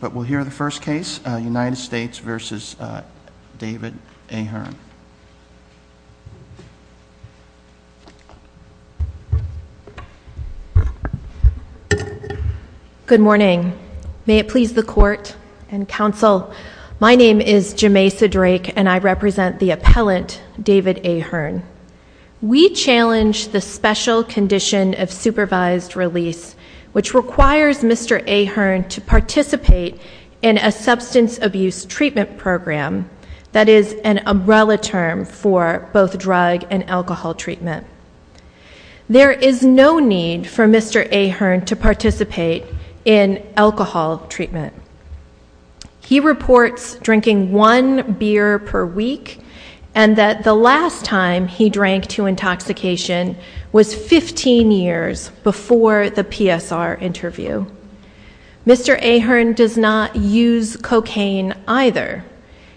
But we'll hear the first case, United States v. David Ahern. Good morning. May it please the court and counsel, my name is Jemaisa Drake and I represent the appellant, David Ahern. We challenge the special condition of supervised release, which requires Mr. Ahern to participate in a substance abuse treatment program. That is an umbrella term for both drug and alcohol treatment. There is no need for Mr. Ahern to participate in alcohol treatment. He reports drinking one beer per week and that the last time he drank to intoxication was 15 years before the PSR interview. Mr. Ahern does not use cocaine either.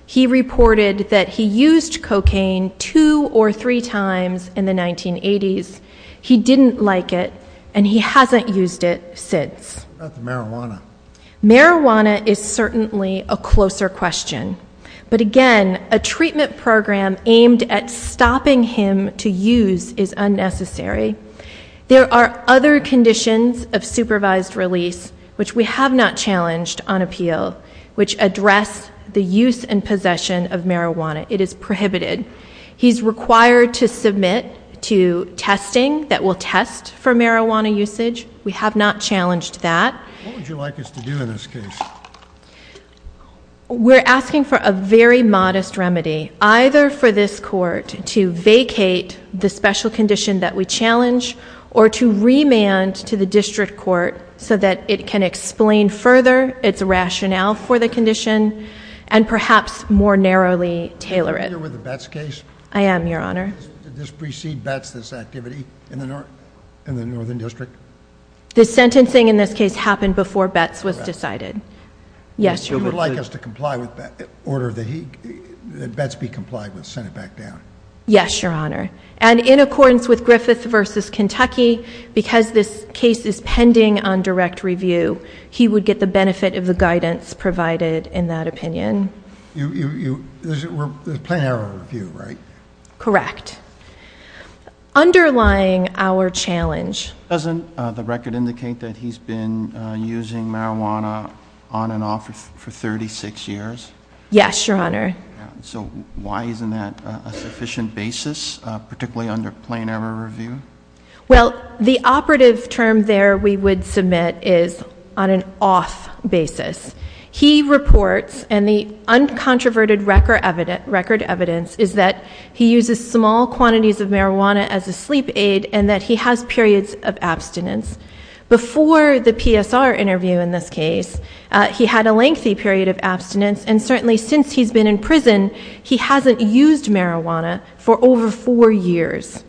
He reported that he used cocaine two or three times in the 1980s. He didn't like it and he hasn't used it since. Marijuana is certainly a closer question. But again, a treatment program aimed at stopping him to use is unnecessary. There are other conditions of supervised release, which we have not challenged on appeal, which address the use and possession of marijuana. It is prohibited. He's required to submit to testing that will test for marijuana usage. We have not challenged that. What would you like us to do in this case? We're asking for a very modest remedy, either for this court to vacate the special condition that we challenge, or to remand to the district court so that it can explain further its rationale for the condition and perhaps more narrowly tailor it. Are you familiar with the Betz case? I am, Your Honor. Did this precede Betz, this activity, in the northern district? The sentencing in this case happened before Betz was decided. Yes, Your Honor. Would you like us to comply with that order that Betz be complied with, sent it back down? Yes, Your Honor. And in accordance with Griffith v. Kentucky, because this case is pending on direct review, he would get the benefit of the guidance provided in that opinion. There's a plain error review, right? Correct. Underlying our challenge. Doesn't the record indicate that he's been using marijuana on and off for 36 years? Yes, Your Honor. So why isn't that a sufficient basis, particularly under plain error review? Well, the operative term there we would submit is on an off basis. He reports, and the uncontroverted record evidence is that he uses small quantities of marijuana as a sleep aid and that he has periods of abstinence. Before the PSR interview in this case, he had a lengthy period of abstinence, and certainly since he's been in prison, he hasn't used marijuana for over four years.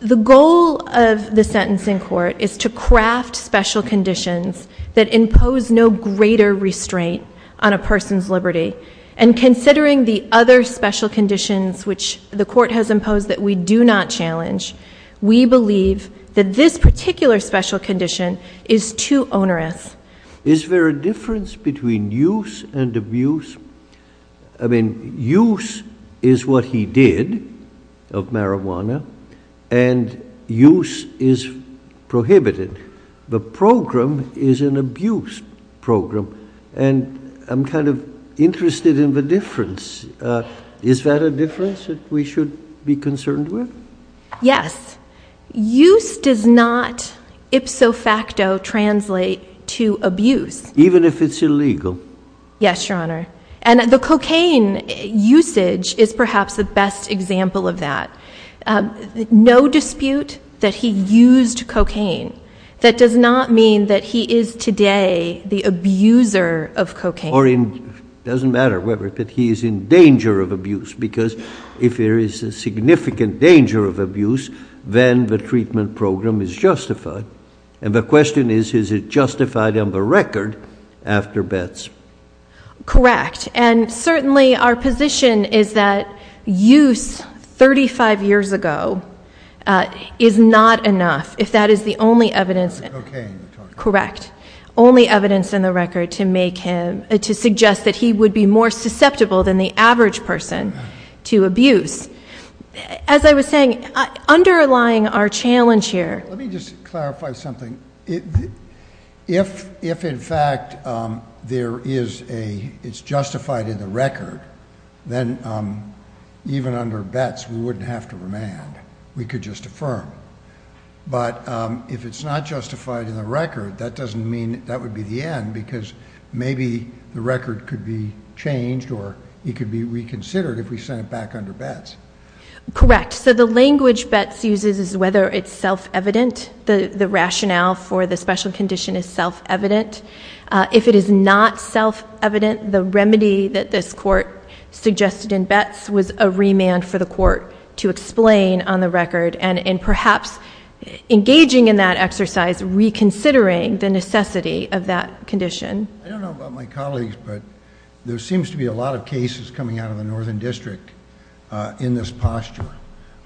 The goal of the sentence in court is to craft special conditions that impose no greater restraint on a person's liberty. And considering the other special conditions which the court has imposed that we do not challenge, we believe that this particular special condition is too onerous. Is there a difference between use and abuse? I mean, use is what he did of marijuana, and use is prohibited. The program is an abuse program, and I'm kind of interested in the difference. Is that a difference that we should be concerned with? Yes. Use does not ipso facto translate to abuse. Even if it's illegal? Yes, Your Honor. And the cocaine usage is perhaps the best example of that. No dispute that he used cocaine. That does not mean that he is today the abuser of cocaine. Or it doesn't matter whether he is in danger of abuse, because if there is a significant danger of abuse, then the treatment program is justified. And the question is, is it justified on the record after bets? Correct. And certainly our position is that use 35 years ago is not enough. If that is the only evidence. Correct. Only evidence in the record to suggest that he would be more susceptible than the average person to abuse. As I was saying, underlying our challenge here. Let me just clarify something. If, in fact, it's justified in the record, then even under bets we wouldn't have to remand. We could just affirm. But if it's not justified in the record, that doesn't mean that would be the end, because maybe the record could be changed or it could be reconsidered if we sent it back under bets. Correct. So the language bets uses is whether it's self-evident. The rationale for the special condition is self-evident. If it is not self-evident, the remedy that this court suggested in bets was a remand for the court to explain on the record and perhaps engaging in that exercise, reconsidering the necessity of that condition. I don't know about my colleagues, but there seems to be a lot of cases coming out of the Northern District in this posture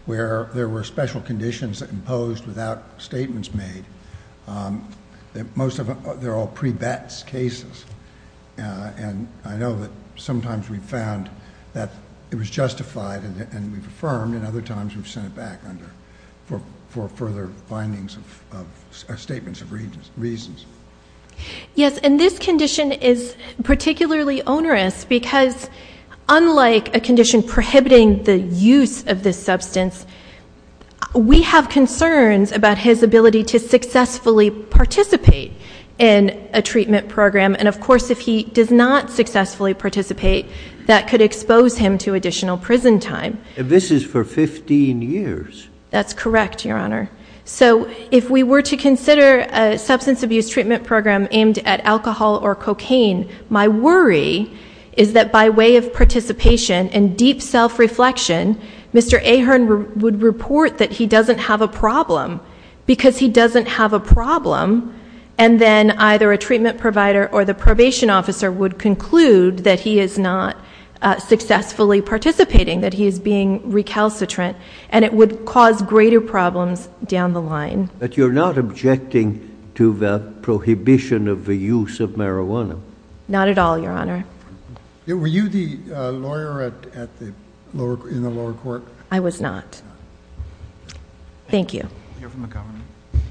where there were special conditions imposed without statements made. Most of them, they're all pre-bets cases. I know that sometimes we've found that it was justified and we've affirmed, and other times we've sent it back for further findings of statements of reasons. Yes, and this condition is particularly onerous because unlike a condition prohibiting the use of this substance, we have concerns about his ability to successfully participate in a treatment program. And, of course, if he does not successfully participate, that could expose him to additional prison time. This is for 15 years. That's correct, Your Honor. So if we were to consider a substance abuse treatment program aimed at alcohol or cocaine, my worry is that by way of participation and deep self-reflection, Mr. Ahern would report that he doesn't have a problem because he doesn't have a problem, and then either a treatment provider or the probation officer would conclude that he is not successfully participating, that he is being recalcitrant, and it would cause greater problems down the line. But you're not objecting to the prohibition of the use of marijuana? Not at all, Your Honor. Were you the lawyer in the lower court? I was not. Thank you. You're from the government. Thank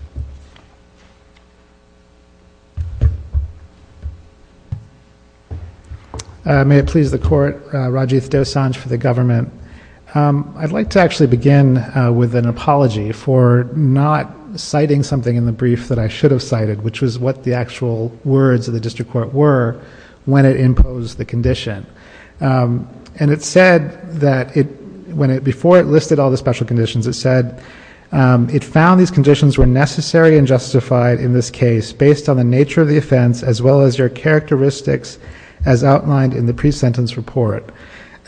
you. May it please the Court, Rajiv Dosanjh for the government. I'd like to actually begin with an apology for not citing something in the brief that I should have cited, which was what the actual words of the district court were when it imposed the condition. And it said that before it listed all the special conditions, it said it found these conditions were necessary and justified in this case based on the nature of the offense as well as your characteristics as outlined in the pre-sentence report.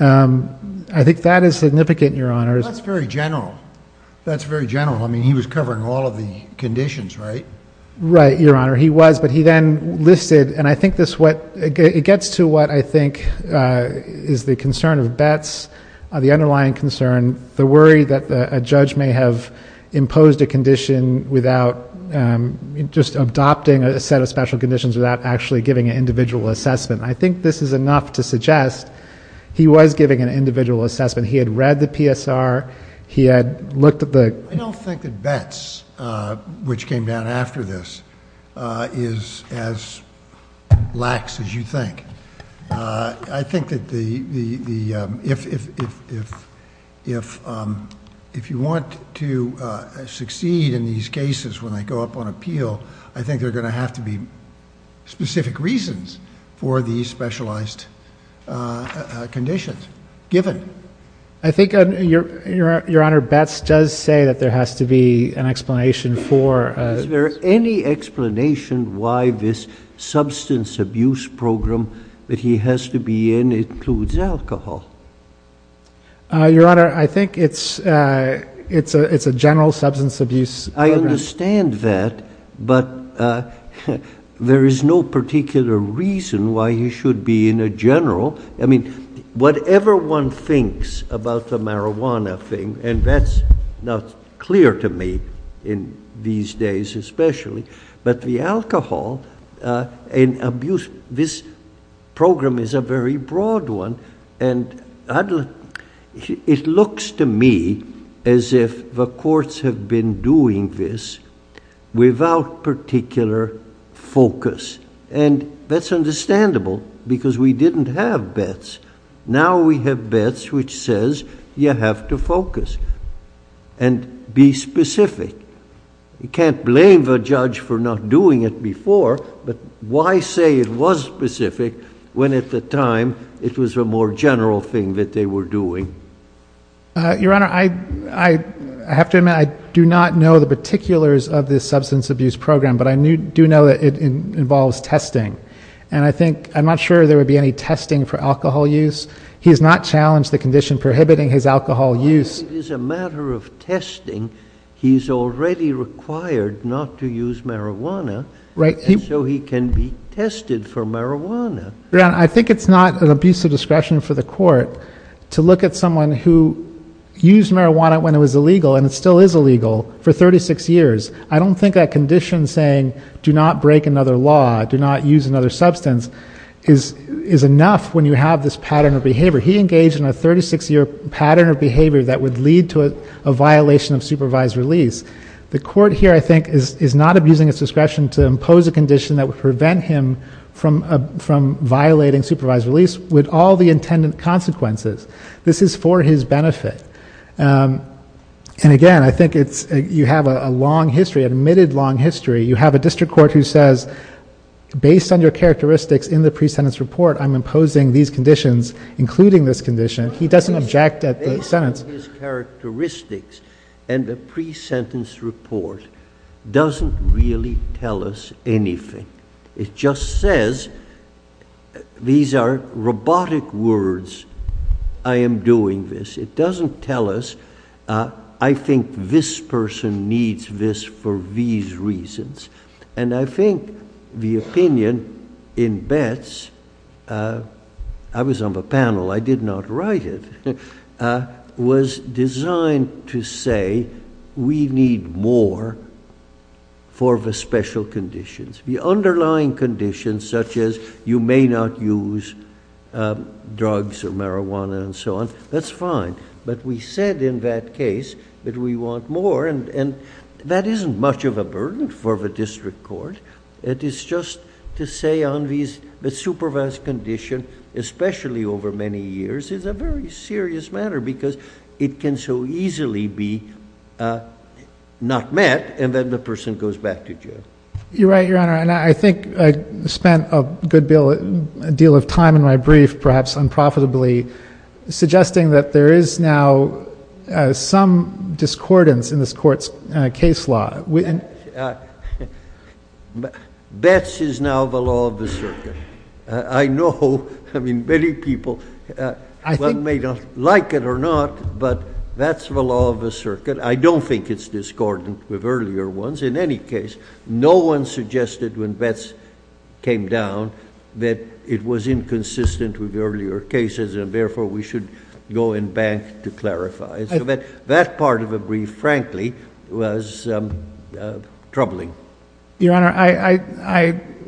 I think that is significant, Your Honor. That's very general. That's very general. I mean, he was covering all of the conditions, right? Right, Your Honor. He was, but he then listed, and I think this gets to what I think is the concern of Betts, the underlying concern, the worry that a judge may have imposed a condition without just adopting a set of special conditions without actually giving an individual assessment. I think this is enough to suggest he was giving an individual assessment. He had read the PSR. He had looked at the ---- I don't think that Betts, which came down after this, is as lax as you think. I think that if you want to succeed in these cases when they go up on appeal, I think there are going to have to be specific reasons for these specialized conditions, given. I think, Your Honor, Betts does say that there has to be an explanation for ---- Is there any explanation why this substance abuse program that he has to be in includes alcohol? Your Honor, I think it's a general substance abuse program. I understand that, but there is no particular reason why he should be in a general. Whatever one thinks about the marijuana thing, and that's not clear to me these days especially, but the alcohol and abuse, this program is a very broad one, and it looks to me as if the courts have been doing this without particular focus. That's understandable because we didn't have Betts. Now we have Betts, which says you have to focus and be specific. You can't blame the judge for not doing it before, but why say it was specific when at the time it was a more general thing that they were doing? Your Honor, I have to admit I do not know the particulars of this substance abuse program, but I do know that it involves testing. I'm not sure there would be any testing for alcohol use. He has not challenged the condition prohibiting his alcohol use. As long as it is a matter of testing, he's already required not to use marijuana, and so he can be tested for marijuana. Your Honor, I think it's not an abuse of discretion for the court to look at someone who used marijuana when it was illegal, and it still is illegal, for 36 years. I don't think that condition saying, do not break another law, do not use another substance, is enough when you have this pattern of behavior. He engaged in a 36-year pattern of behavior that would lead to a violation of supervised release. The court here, I think, is not abusing its discretion to impose a condition that would prevent him from violating supervised release with all the intended consequences. This is for his benefit. And again, I think you have a long history, an admitted long history. You have a district court who says, based on your characteristics in the pre-sentence report, I'm imposing these conditions, including this condition. He doesn't object at the sentence. His characteristics and the pre-sentence report doesn't really tell us anything. It just says, these are robotic words. I am doing this. It doesn't tell us, I think this person needs this for these reasons. And I think the opinion in Betts, I was on the panel, I did not write it, was designed to say, we need more for the special conditions. The underlying conditions, such as you may not use drugs or marijuana and so on, that's fine, but we said in that case that we want more. And that isn't much of a burden for the district court. It is just to say on the supervised condition, especially over many years, is a very serious matter because it can so easily be not met and then the person goes back to jail. You're right, Your Honor, and I think I spent a good deal of time in my brief, perhaps unprofitably, suggesting that there is now some discordance in this court's case law. Betts is now the law of the circuit. I know many people, one may not like it or not, but that's the law of the circuit. I don't think it's discordant with earlier ones. In any case, no one suggested when Betts came down that it was inconsistent with earlier cases and therefore we should go and bank to clarify. So that part of the brief, frankly, was troubling. Your Honor,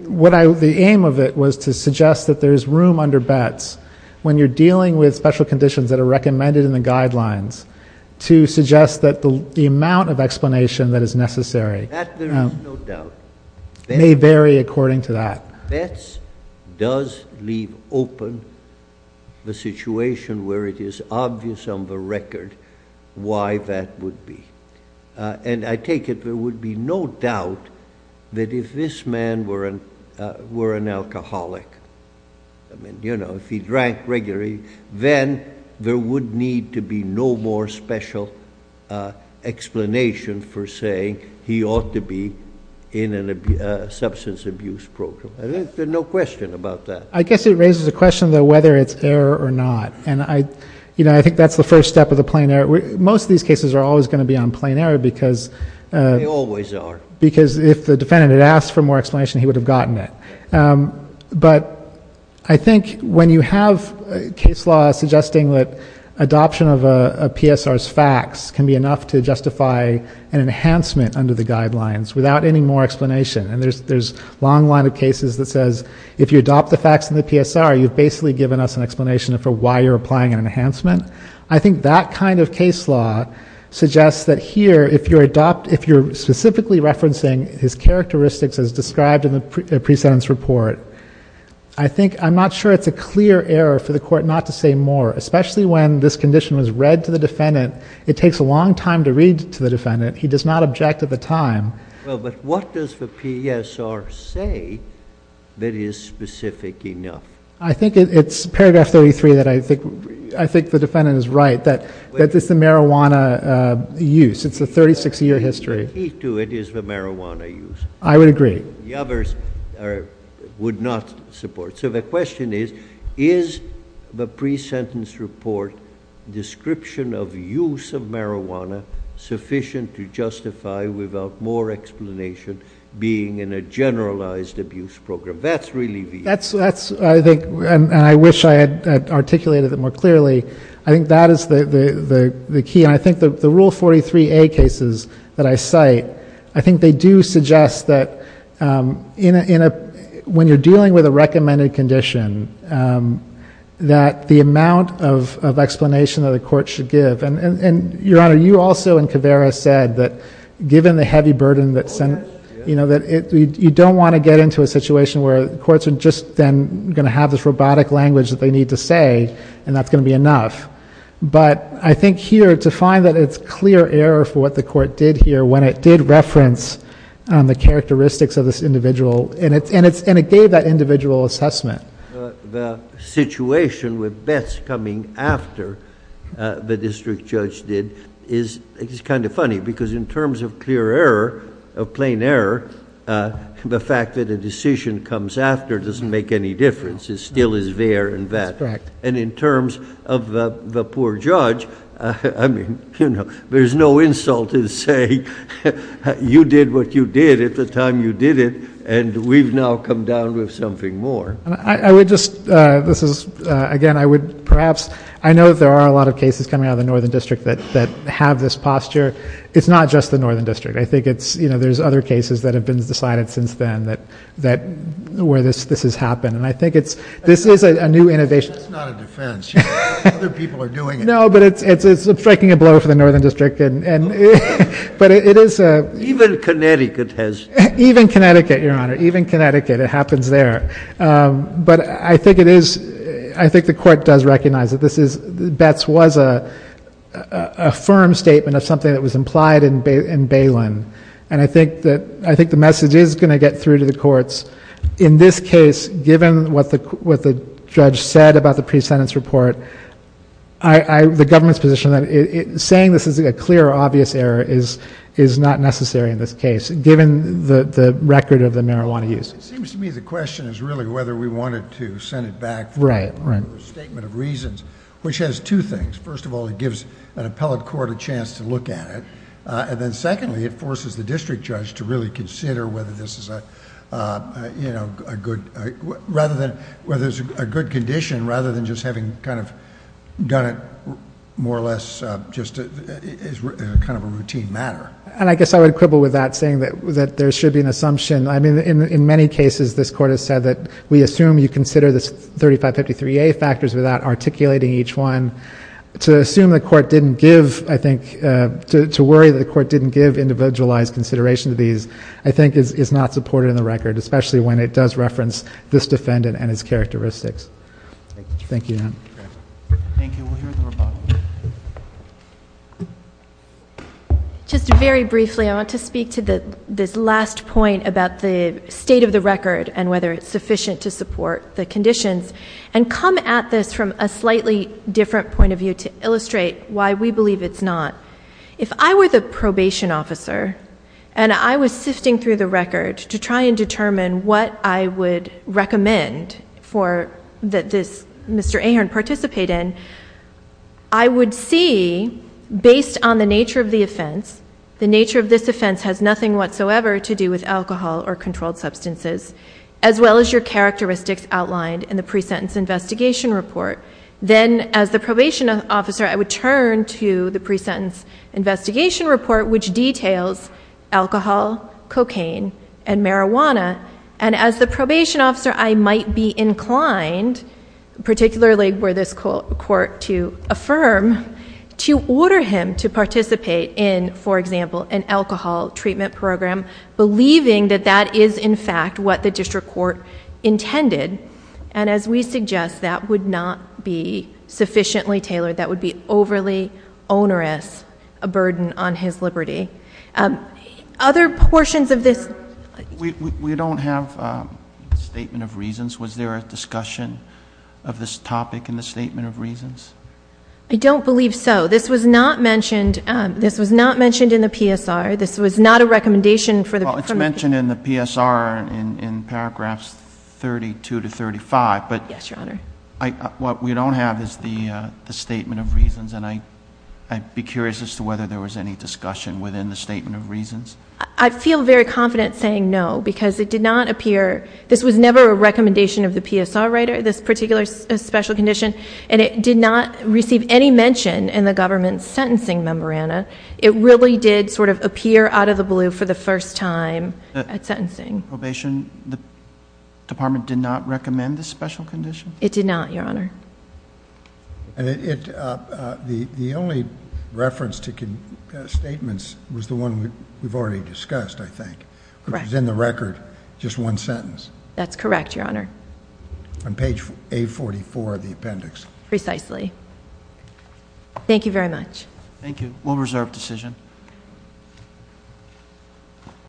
the aim of it was to suggest that there is room under Betts when you're dealing with special conditions that are recommended in the guidelines to suggest that the amount of explanation that is necessary may vary according to that. Betts does leave open the situation where it is obvious on the record why that would be. And I take it there would be no doubt that if this man were an alcoholic, if he drank regularly, then there would need to be no more special explanation for saying he ought to be in a substance abuse program. I think there's no question about that. I guess it raises a question, though, whether it's error or not. And I think that's the first step of the plain error. Most of these cases are always going to be on plain error because if the defendant had asked for more explanation, he would have gotten it. But I think when you have case law suggesting that adoption of a PSR's facts can be enough to justify an enhancement under the guidelines without any more explanation, and there's a long line of cases that says if you adopt the facts in the PSR, you've basically given us an explanation for why you're applying an enhancement. I think that kind of case law suggests that here if you're specifically referencing his characteristics as described in the pre-sentence report, I'm not sure it's a clear error for the court not to say more, especially when this condition was read to the defendant. It takes a long time to read to the defendant. He does not object at the time. Well, but what does the PSR say that is specific enough? I think it's paragraph 33 that I think the defendant is right, that it's the marijuana use. It's the 36-year history. The key to it is the marijuana use. I would agree. The others would not support. So the question is, is the pre-sentence report description of use of marijuana sufficient to justify without more explanation being in a generalized abuse program? That's really the issue. That's, I think, and I wish I had articulated it more clearly. I think that is the key, and I think the Rule 43A cases that I cite, I think they do suggest that when you're dealing with a recommended condition, that the amount of explanation that a court should give, and, Your Honor, you also in Caveira said that given the heavy burden that, you know, that you don't want to get into a situation where courts are just then going to have this robotic language that they need to say, and that's going to be enough. But I think here to find that it's clear error for what the court did here when it did reference the characteristics of this individual, and it gave that individual assessment. The situation with bets coming after the district judge did is kind of funny because in terms of clear error, of plain error, the fact that a decision comes after doesn't make any difference. That's correct. And in terms of the poor judge, I mean, you know, there's no insult in saying, you did what you did at the time you did it, and we've now come down with something more. I would just, this is, again, I would perhaps, I know there are a lot of cases coming out of the Northern District that have this posture. It's not just the Northern District. I think it's, you know, there's other cases that have been decided since then that, where this has happened, and I think it's, this is a new innovation. That's not a defense. Other people are doing it. No, but it's striking a blow for the Northern District, and, but it is a. Even Connecticut has. Even Connecticut, Your Honor. Even Connecticut. It happens there. But I think it is, I think the court does recognize that this is, bets was a firm statement of something that was implied in Balin. And I think that, I think the message is going to get through to the courts. In this case, given what the judge said about the pre-sentence report, the government's position that saying this is a clear, obvious error is not necessary in this case, given the record of the marijuana use. It seems to me the question is really whether we wanted to send it back for a statement of reasons, which has two things. First of all, it gives an appellate court a chance to look at it. And then secondly, it forces the district judge to really consider whether this is a, you know, a good, rather than, whether it's a good condition, rather than just having kind of done it more or less just as kind of a routine matter. And I guess I would quibble with that, saying that there should be an assumption. I mean, in many cases, this court has said that we assume you consider the 3553A factors without articulating each one. To assume the court didn't give, I think, to worry that the court didn't give individualized consideration to these, I think is not supported in the record, especially when it does reference this defendant and his characteristics. Thank you. Thank you. Just very briefly, I want to speak to this last point about the state of the record and whether it's sufficient to support the conditions and come at this from a slightly different point of view to illustrate why we believe it's not. If I were the probation officer and I was sifting through the record to try and determine what I would recommend for, that this Mr. Ahern participate in, I would see, based on the nature of the offense, the nature of this offense has nothing whatsoever to do with alcohol or controlled substances, as well as your characteristics outlined in the pre-sentence investigation report. Then, as the probation officer, I would turn to the pre-sentence investigation report, which details alcohol, cocaine, and marijuana. And as the probation officer, I might be inclined, particularly were this court to affirm, to order him to participate in, for example, an alcohol treatment program, believing that that is, in fact, what the district court intended. And as we suggest, that would not be sufficiently tailored. That would be overly onerous, a burden on his liberty. Other portions of this... We don't have a statement of reasons. Was there a discussion of this topic in the statement of reasons? I don't believe so. This was not mentioned in the PSR. This was not a recommendation for the... Well, it's mentioned in the PSR in paragraphs 32 to 35, but... Yes, Your Honor. What we don't have is the statement of reasons, and I'd be curious as to whether there was any discussion within the statement of reasons. I feel very confident saying no, because it did not appear... This was never a recommendation of the PSR writer, this particular special condition, and it did not receive any mention in the government sentencing memoranda. It really did sort of appear out of the blue for the first time at sentencing. Probation, the department did not recommend this special condition? It did not, Your Honor. The only reference to statements was the one we've already discussed, I think, which was in the record, just one sentence. That's correct, Your Honor. On page A44 of the appendix. Precisely. Thank you very much. Thank you. One reserved decision.